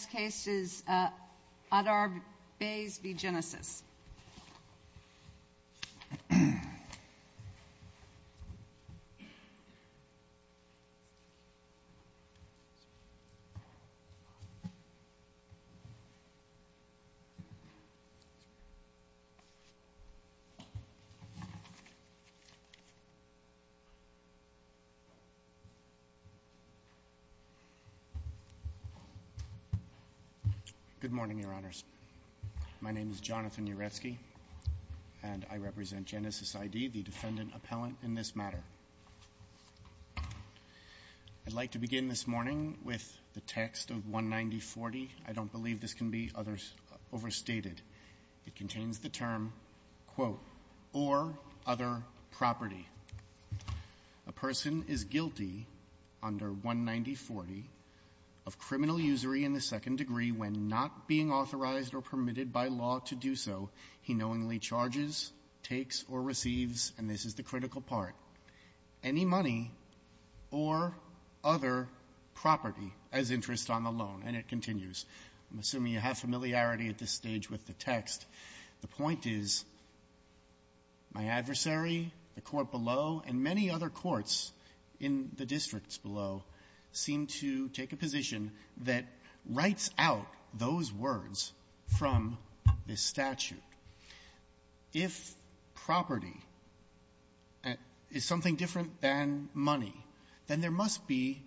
The next case is Adar Bays v. GeneSYS. Good morning, Your Honors. My name is Jonathan Uretsky, and I represent GeneSYS ID, the defendant-appellant in this matter. I'd like to begin this morning with the text of 19040. I don't believe this can be overstated. It contains the term, quote, or other property. A person is guilty under 19040 of criminal usury in the second degree when not being authorized or permitted by law to do so. He knowingly charges, takes, or receives, and this is the critical part, any money or other property as interest on the loan. And it continues. I'm assuming you have familiarity at this stage with the text. The point is my adversary, the court below, and many other courts in the districts below seem to take a position that writes out those words from this statute. If property is something different than money, then there must be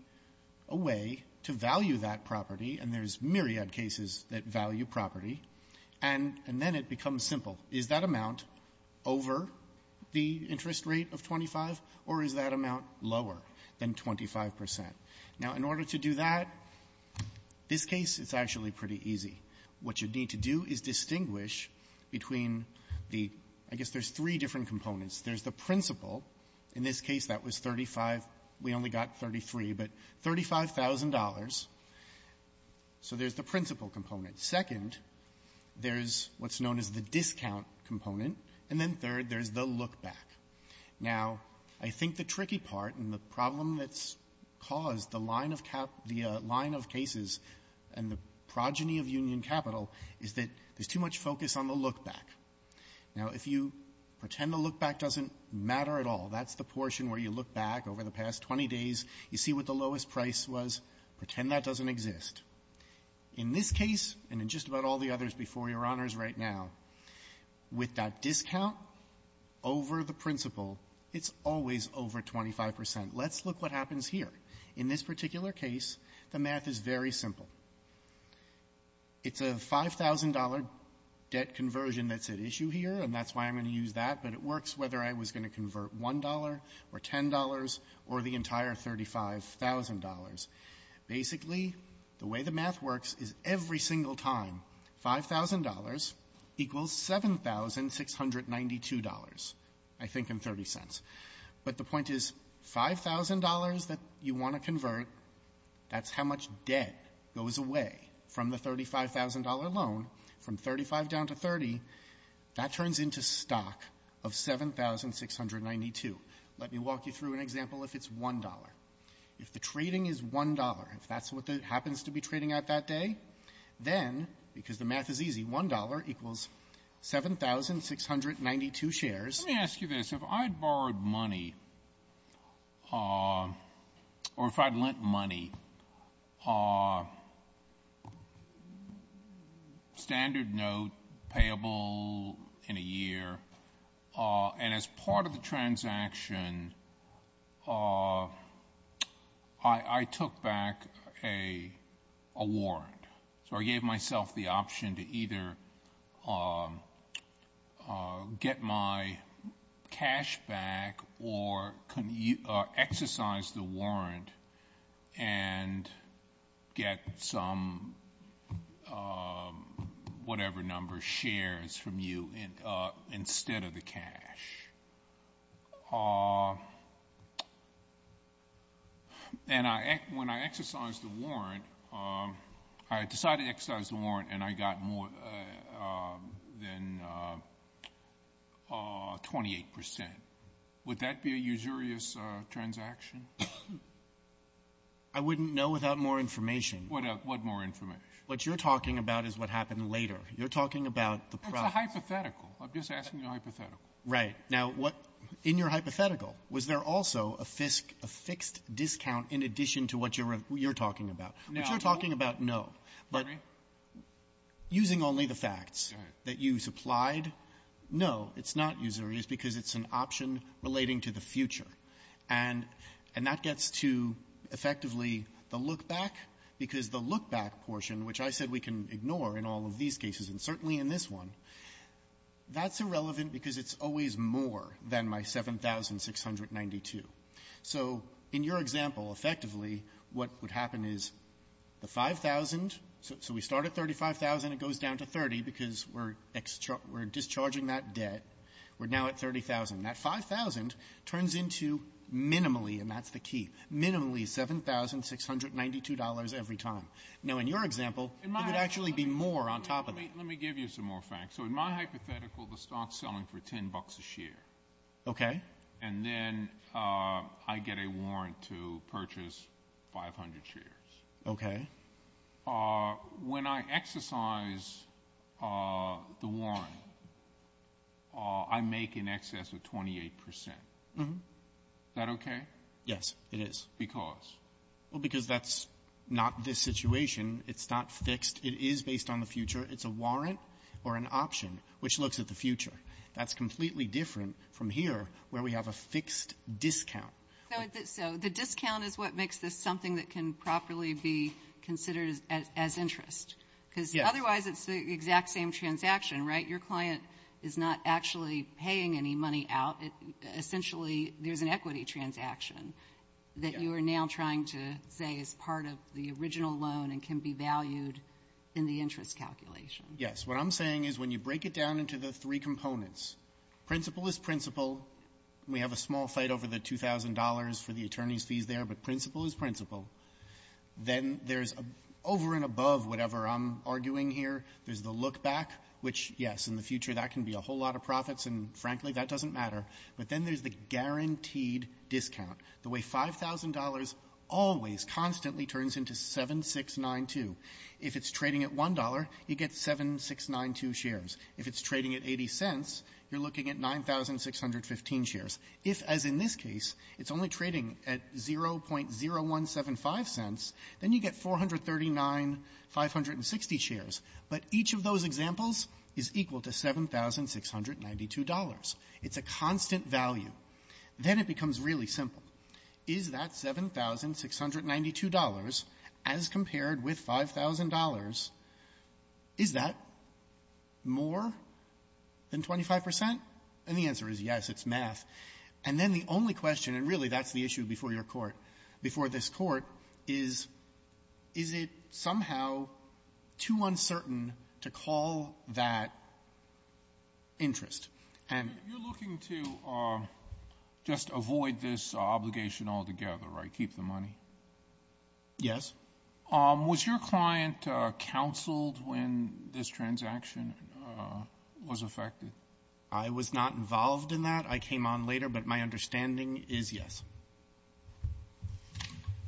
a way to value that Is that amount over the interest rate of 25, or is that amount lower than 25 percent? Now, in order to do that, this case, it's actually pretty easy. What you need to do is distinguish between the — I guess there's three different components. There's the principal. In this case, that was 35. We only got 33, but $35,000. So there's the principal component. Second, there's what's known as the discount component. And then third, there's the lookback. Now, I think the tricky part and the problem that's caused the line of cap — the line of cases and the progeny of union capital is that there's too much focus on the lookback. Now, if you pretend the lookback doesn't matter at all, that's the portion where you look back over the past 20 days, you see what the lowest price was, pretend that doesn't exist. In this case, and in just about all the others before Your Honors right now, with that discount over the principal, it's always over 25 percent. Let's look what happens here. In this particular case, the math is very simple. It's a $5,000 debt conversion that's at issue here, and that's why I'm going to use that. But it works whether I was going to convert $1 or $10 or the entire $35,000. Basically, the way the math works is every single time $5,000 equals $7,692, I think, in 30 cents. But the point is $5,000 that you want to convert, that's how much debt goes away from the $35,000 loan, from $35 down to $30, that turns into stock of $7,692. Let me walk you through an example if it's $1. If the trading is $1, if that's what happens to be trading at that day, then, because the math is easy, $1 equals $7,692 shares. Let me ask you this. If I borrowed money, or if I'd lent money, standard note, payable in a year, and as part of the transaction, I took back a warrant. So I gave myself the option to either get my cash back or exercise the warrant and get some whatever number shares from you instead of the cash. And when I exercised the warrant, I decided to exercise the warrant and I got more than 28%. Would that be a usurious transaction? I wouldn't know without more information. What more information? What you're talking about is what happened later. You're talking about the price. I'm just asking a hypothetical. Right. Now, what in your hypothetical, was there also a fixed discount in addition to what you're talking about? If you're talking about no, but using only the facts that you supplied, no, it's not usurious because it's an option relating to the future. And that gets to, effectively, the lookback, because the lookback portion, which I said we can ignore in all of these cases and certainly in this one, that's irrelevant because it's always more than my 7,692. So in your example, effectively, what would happen is the 5,000, so we start at 35,000, it goes down to 30 because we're discharging that debt. We're now at 30,000. That 5,000 turns into minimally, and that's the key, minimally $7,692 every time. Now, in your example, it would actually be more on top of that. Let me give you some more facts. So in my hypothetical, the stock's selling for 10 bucks a share. Okay. And then I get a warrant to purchase 500 shares. Okay. When I exercise the warrant, I make in excess of 28 percent. Mm-hmm. Is that okay? Yes, it is. Because? Well, because that's not this situation. It's not fixed. It is based on the future. It's a warrant or an option, which looks at the future. That's completely different from here, where we have a fixed discount. So the discount is what makes this something that can properly be considered as interest? Because otherwise, it's the exact same transaction, right? Your client is not actually paying any money out. There's an equity transaction that you are now trying to say is part of the original loan and can be valued in the interest calculation. Yes. What I'm saying is when you break it down into the three components, principal is principal. We have a small fight over the $2,000 for the attorney's fees there, but principal is principal. Then there's over and above whatever I'm arguing here. There's the look-back, which, yes, in the future, that can be a whole lot of profits, and frankly, that doesn't matter. But then there's the guaranteed discount, the way $5,000 always constantly turns into 7692. If it's trading at $1, you get 7692 shares. If it's trading at 80 cents, you're looking at 9,615 shares. If, as in this case, it's only trading at 0.0175 cents, then you get 439,560 shares. But each of those examples is equal to $7,692. It's a constant value. Then it becomes really simple. Is that $7,692, as compared with $5,000, is that more than 25 percent? And the answer is yes. It's math. And then the only question, and really that's the issue before your court, before this Court, is, is it somehow too uncertain to call that interest? And you're looking to just avoid this obligation altogether, right? Keep the money? Yes. Was your client counseled when this transaction was affected? I was not involved in that. I came on later, but my understanding is yes. Thank you.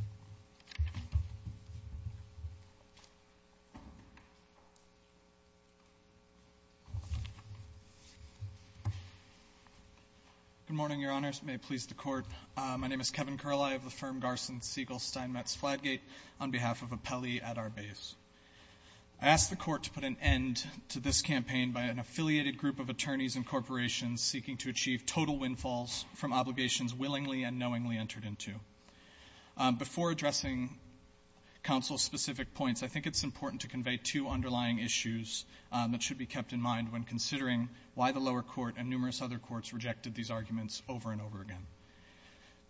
Good morning, Your Honors. May it please the Court. My name is Kevin Curlie of the firm Garson Siegel Steinmetz Fladgate, on behalf of Appelli at our base. I ask the Court to put an end to this campaign by an affiliated group of attorneys and corporations seeking to achieve total windfalls from obligations willingly and knowingly entered into. Before addressing counsel's specific points, I think it's important to convey two underlying issues that should be kept in mind when considering why the lower court and numerous other courts rejected these arguments over and over again.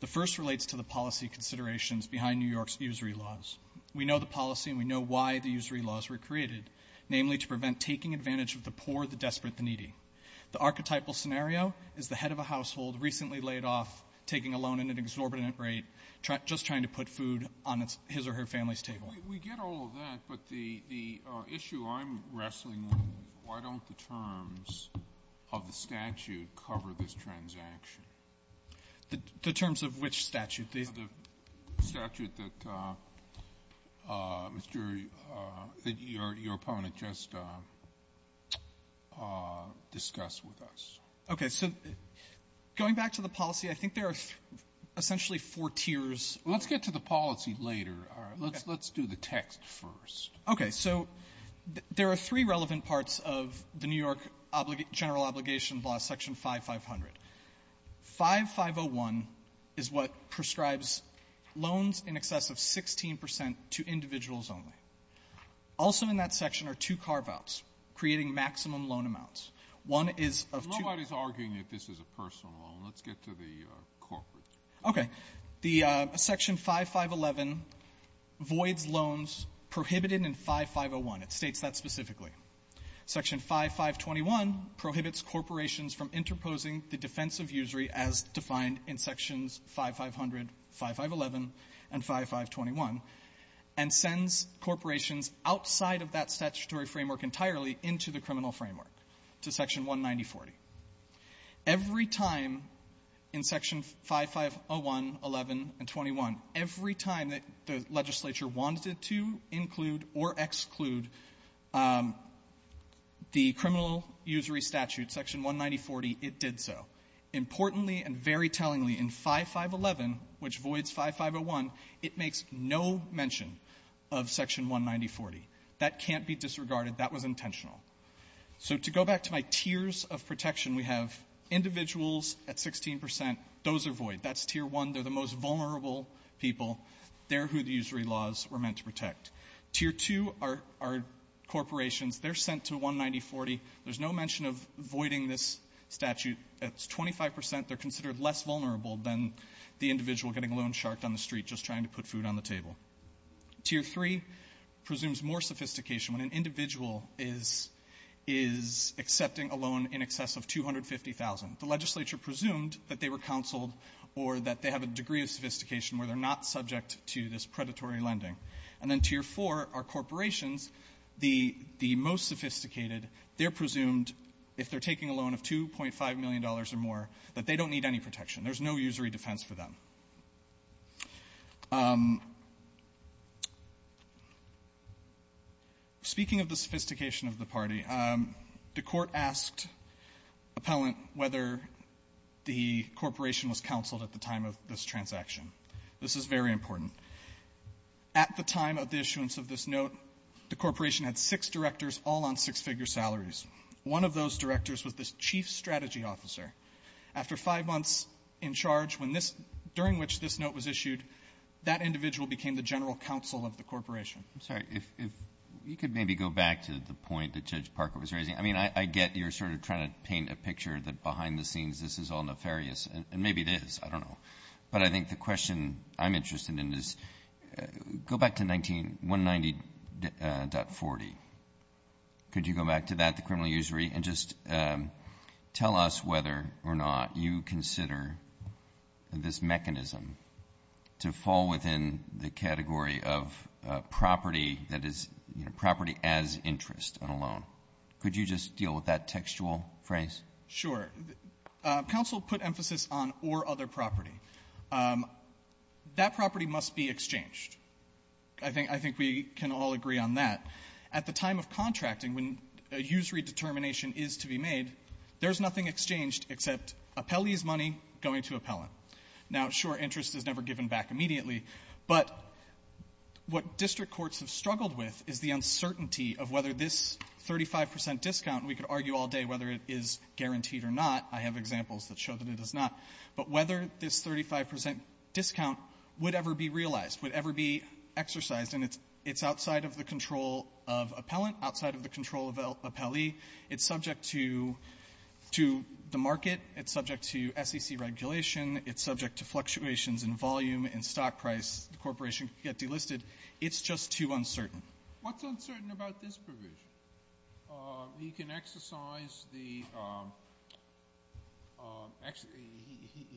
The first relates to the policy considerations behind New York's usury laws. We know the policy and we know why the usury laws were created, namely to prevent taking advantage of the poor, the desperate, the needy. The archetypal scenario is the head of a household recently laid off, taking a loan at an exorbitant rate, just trying to put food on his or her family's table. We get all of that, but the issue I'm wrestling with is why don't the terms of the statute cover this transaction? The terms of which statute? The statute that Mr. ---- that your opponent just discussed with us. Okay. So going back to the policy, I think there are essentially four tiers. Let's get to the policy later. Let's do the text first. Okay. So there are three relevant parts of the New York General Obligation Law, Section 5.511 and 5.500. 5.501 is what prescribes loans in excess of 16 percent to individuals only. Also in that section are two carve-outs, creating maximum loan amounts. One is of two ---- The law is arguing that this is a personal loan. Let's get to the corporate. Okay. The Section 5.511 voids loans prohibited in 5.501. It states that specifically. Section 5.521 prohibits corporations from interposing the defense of usury as defined in Sections 5.500, 5.511, and 5.521, and sends corporations outside of that statutory framework entirely into the criminal framework, to Section 19040. Every time in Section 5.501, 5.511, and 5.521, every time that the legislature wanted to include or exclude the criminal usury statute, Section 19040, it did so. Importantly and very tellingly, in 5.511, which voids 5.501, it makes no mention of Section 19040. That can't be disregarded. That was intentional. So to go back to my tiers of protection, we have individuals at 16 percent. Those are void. That's Tier 1. They're the most vulnerable people. They're who the usury laws were meant to protect. Tier 2 are corporations. They're sent to 19040. There's no mention of voiding this statute. It's 25 percent. They're considered less vulnerable than the individual getting loan sharked on the street just trying to put food on the table. Tier 3 presumes more sophistication. When an individual is accepting a loan in excess of $250,000, the legislature presumed that they were counseled or that they have a degree of sophistication where they're not subject to this predatory lending. And then Tier 4 are corporations, the most sophisticated. They're presumed, if they're taking a loan of $2.5 million or more, that they don't need any protection. There's no usury defense for them. Speaking of the sophistication of the party, the Court asked appellant whether the corporation was counseled at the time of this transaction. This is very important. At the time of the issuance of this note, the corporation had six directors all on six-figure salaries. One of those directors was the chief strategy officer. After five months in charge when this — during which this note was issued, that individual became the general counsel of the corporation. I'm sorry. If — if you could maybe go back to the point that Judge Parker was raising. I mean, I — I get you're sort of trying to paint a picture that behind the scenes this is all nefarious, and maybe it is. I don't know. But I think the question I'm interested in is, go back to 19 — 190.40. Could you go back to that, the criminal usury, and just tell us whether or not you consider this mechanism to fall within the category of property that is, you know, property as interest on a loan. Could you just deal with that textual phrase? Sure. Counsel put emphasis on or other property. That property must be exchanged. I think — I think we can all agree on that. At the time of contracting, when a usury determination is to be made, there's nothing exchanged except appellee's money going to appellant. Now, sure, interest is never given back immediately, but what district courts have struggled with is the uncertainty of whether this 35 percent discount — we could I have examples that show that it is not. But whether this 35 percent discount would ever be realized, would ever be exercised — and it's outside of the control of appellant, outside of the control of appellee. It's subject to the market. It's subject to SEC regulation. It's subject to fluctuations in volume and stock price. The corporation could get delisted. It's just too uncertain. What's uncertain about this provision? He can exercise the —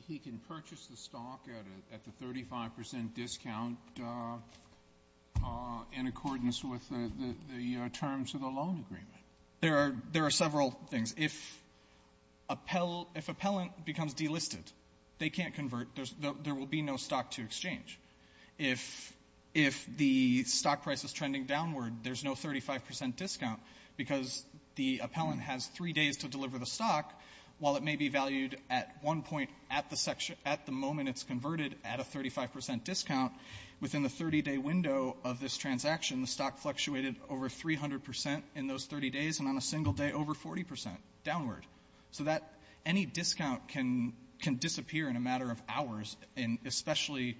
he can purchase the stock at a — at the 35 percent discount in accordance with the terms of the loan agreement. There are several things. If appellant becomes delisted, they can't convert. There will be no stock to exchange. If — if the stock price is trending downward, there's no 35 percent discount because the appellant has three days to deliver the stock. While it may be valued at one point at the section — at the moment it's converted at a 35 percent discount, within the 30-day window of this transaction, the stock fluctuated over 300 percent in those 30 days, and on a single day, over 40 percent downward. So that — any discount can — can disappear in a matter of hours, and especially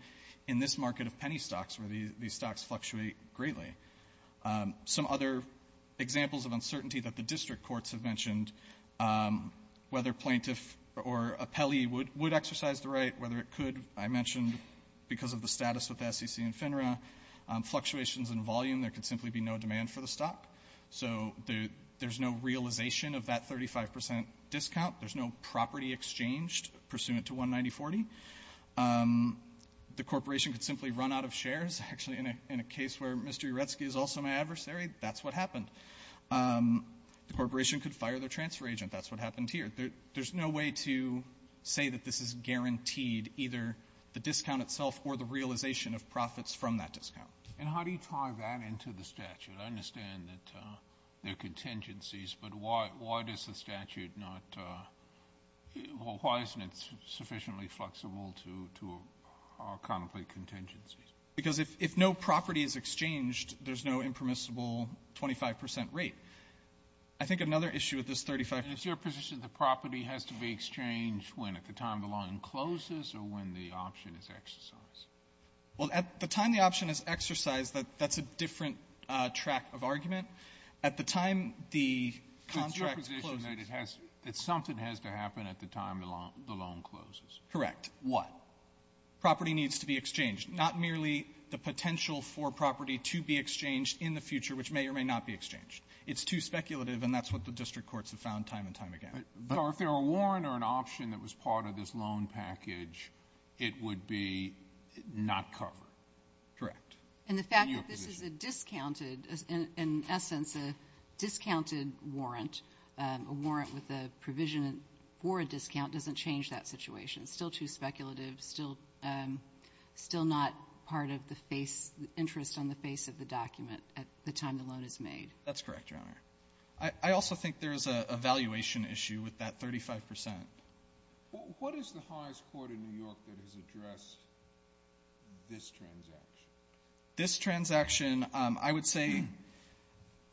in this market of penny stocks, where these — these stocks fluctuate greatly. Some other examples of uncertainty that the district courts have mentioned, whether plaintiff or appellee would — would exercise the right, whether it could, I mentioned, because of the status with SEC and FINRA, fluctuations in volume, there could simply be no demand for the stock. So there's no realization of that 35 percent discount. There's no property exchanged pursuant to 19040. The corporation could simply run out of shares. Actually, in a — in a case where Mr. Uretsky is also my adversary, that's what happened. The corporation could fire their transfer agent. That's what happened here. There's no way to say that this is guaranteed, either the discount itself or the realization of profits from that discount. Kennedy. And how do you tie that into the statute? I understand that there are contingencies, but why — why does the statute not — well, why isn't it sufficiently flexible to — to contemplate contingencies? Because if no property is exchanged, there's no impermissible 25 percent rate. I think another issue with this 35 percent — And it's your position the property has to be exchanged when, at the time the line closes or when the option is exercised? Well, at the time the option is exercised, that's a different track of argument. At the time the contract closes — It's your position that it has — that something has to happen at the time the line — the loan closes. Correct. What? Property needs to be exchanged. Not merely the potential for property to be exchanged in the future, which may or may not be exchanged. It's too speculative, and that's what the district courts have found time and time again. But — So if there were a warrant or an option that was part of this loan package, it would be not covered? Correct. And the fact that this is a discounted — in essence, a discounted warrant, a warrant with a provision for a discount doesn't change that situation. It's still too speculative, still — still not part of the face — the interest on the face of the document at the time the loan is made. That's correct, Your Honor. I also think there is a valuation issue with that 35 percent. What is the highest court in New York that has addressed this transaction? This transaction, I would say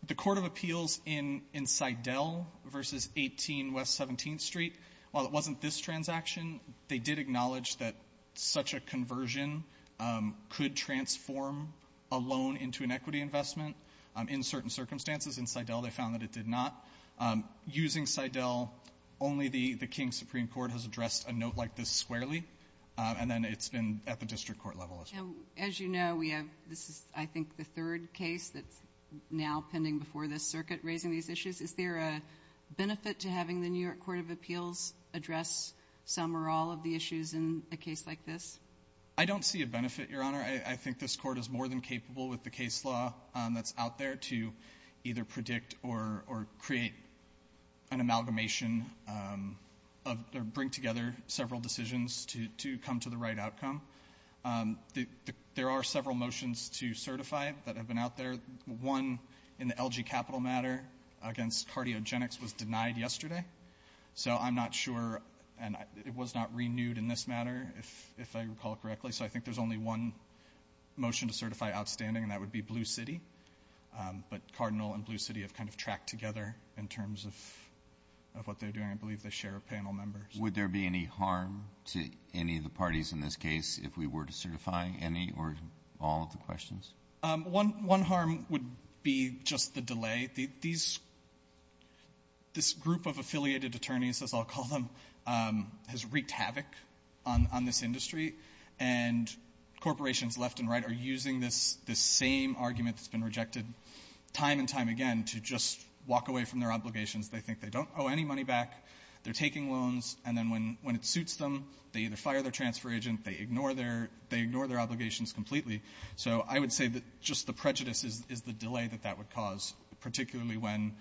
the court of appeals in — in Seidel v. 18 West 17th Street, while it wasn't this transaction, they did acknowledge that such a conversion could transform a loan into an equity investment in certain circumstances. In Seidel, they found that it did not. Using Seidel, only the — the King Supreme Court has addressed a note like this squarely, and then it's been at the district court level as well. Now, as you know, we have — this is, I think, the third case that's now pending before this circuit raising these issues. Is there a benefit to having the New York court of appeals address some or all of the issues in a case like this? I don't see a benefit, Your Honor. I think this court is more than capable with the case law that's out there to either predict or — or create an amalgamation of — or bring together several decisions to — to come to the right outcome. There are several motions to certify that have been out there. One in the LG Capital matter against Cardiogenics was denied yesterday. So I'm not sure — and it was not renewed in this matter, if — if I recall correctly. So I think there's only one motion to certify outstanding, and that would be Blue City. But Cardinal and Blue City have kind of tracked together in terms of — of what they're doing. I believe they share a panel member. Would there be any harm to any of the parties in this case if we were to certify any or all of the questions? One — one harm would be just the delay. These — this group of affiliated attorneys, as I'll call them, has wreaked havoc on — on this industry, and corporations left and right are using this — this same argument that's been rejected time and time again to just walk away from their obligations. They think they don't owe any money back. They're taking loans, and then when — when it suits them, they either fire their transfer agent, they ignore their — they ignore their obligations completely. So I would say that just the prejudice is — is the delay that that would cause, particularly when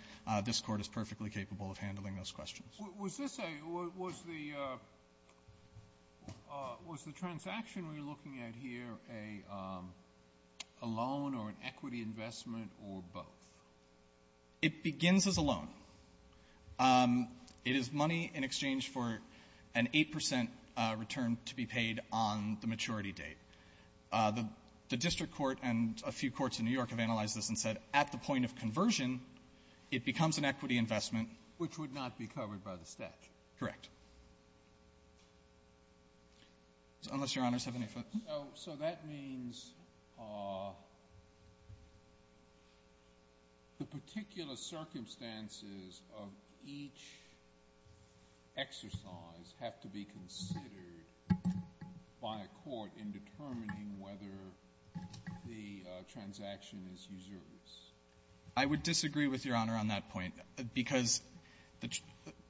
this Court is perfectly capable of handling those questions. Was this a — was the — was the transaction we're looking at here a loan or an equity investment or both? It begins as a loan. It is money in exchange for an 8 percent return to be paid on the maturity date. The — the district court and a few courts in New York have analyzed this and said at the point of conversion, it becomes an equity investment. Which would not be covered by the statute. Correct. Unless Your Honors have any further — So — so that means the particular circumstances of each exercise have to be considered by a court in determining whether the transaction is usurpice. I would disagree with Your Honor on that point, because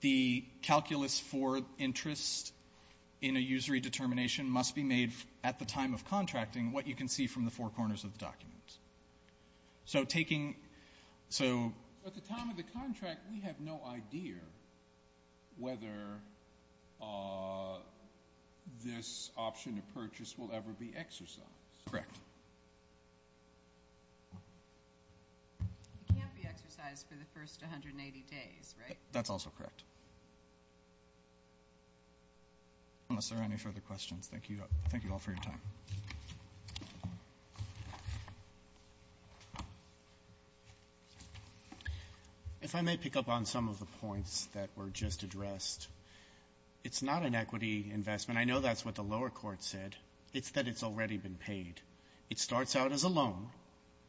the calculus for interest in a usury determination must be made at the time of contracting, what you can see from the four corners of the documents. So taking — so — At the time of the contract, we have no idea whether this option of purchase will ever be exercised. Correct. It can't be exercised for the first 180 days, right? That's also correct. Unless there are any further questions, thank you all for your time. If I may pick up on some of the points that were just addressed. It's not an equity investment. I know that's what the lower court said. It's that it's already been paid. It starts out as a loan,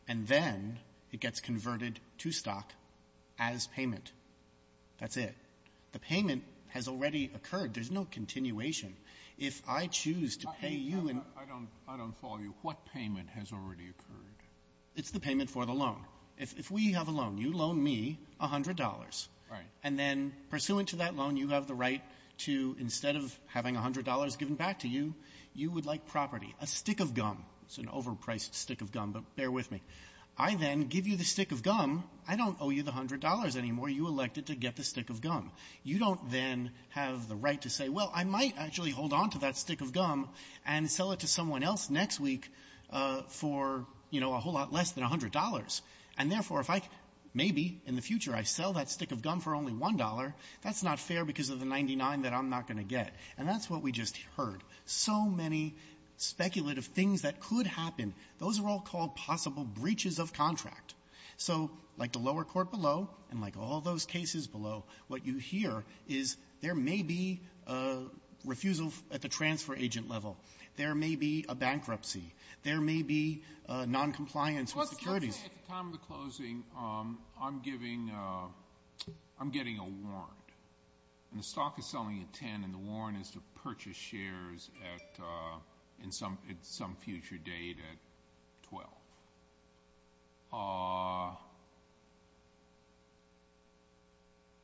and then it gets converted to stock as payment. That's it. The payment has already occurred. There's no continuation. If I choose to pay you and — I don't follow you. What payment has already occurred? It's the payment for the loan. If we have a loan, you loan me $100. Right. And then pursuant to that loan, you have the right to, instead of having $100 given back to you, you would like property, a stick of gum. It's an overpriced stick of gum, but bear with me. I then give you the stick of gum. I don't owe you the $100 anymore. You elected to get the stick of gum. You don't then have the right to say, well, I might actually hold on to that stick of gum and sell it to someone else next week for, you know, a whole lot less than $100. And therefore, if I — maybe in the future I sell that stick of gum for only $1, that's not fair because of the 99 that I'm not going to get. And that's what we just heard. So many speculative things that could happen. Those are all called possible breaches of contract. So like the lower court below, and like all those cases below, what you hear is there may be a refusal at the transfer agent level. There may be a bankruptcy. There may be noncompliance with securities. Sotomayor, at the time of the closing, I'm giving — I'm getting a warrant. And the stock is selling at $10, and the warrant is to purchase shares at — at some future date at $12.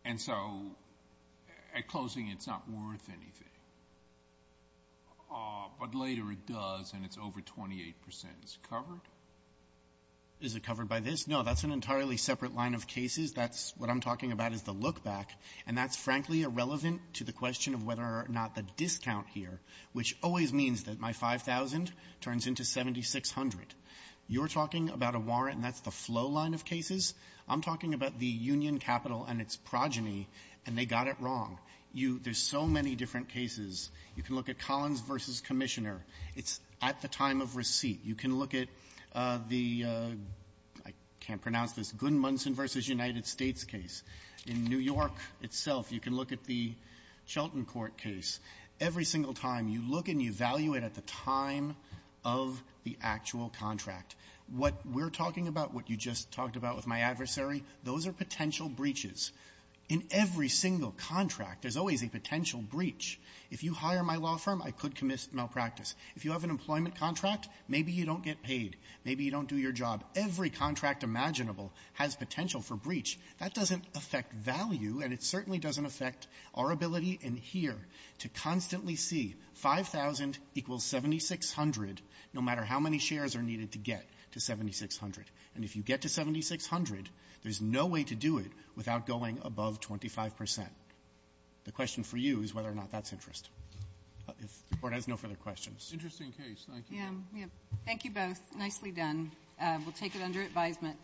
And so at closing, it's not worth anything. But later, it does, and it's over 28 percent. Is it covered? Is it covered by this? No. That's an entirely separate line of cases. That's — what I'm talking about is the look-back, and that's, frankly, irrelevant to the question of whether or not the discount here, which always means that my $5,000 turns into $7,600. You're talking about a warrant, and that's the flow line of cases. I'm talking about the union capital and its progeny, and they got it wrong. You — there's so many different cases. You can look at Collins v. Commissioner. It's at the time of receipt. You can look at the — I can't pronounce this — Gunn-Munson v. United States case. In New York itself, you can look at the Chelten court case. Every single time, you look and you value it at the time of the actual contract. What we're talking about, what you just talked about with my adversary, those are potential breaches. In every single contract, there's always a potential breach. If you hire my law firm, I could commit malpractice. If you have an employment contract, maybe you don't get paid. Maybe you don't do your job. Every contract imaginable has potential for breach. That doesn't affect value, and it certainly doesn't affect our ability in here to constantly see 5,000 equals 7,600, no matter how many shares are needed to get to 7,600. And if you get to 7,600, there's no way to do it without going above 25 percent. The question for you is whether or not that's interest. If the Court has no further questions. Roberts. Interesting case. Thank you. Yeah. Yep. Thank you both. Nicely done. We'll take it under advisement.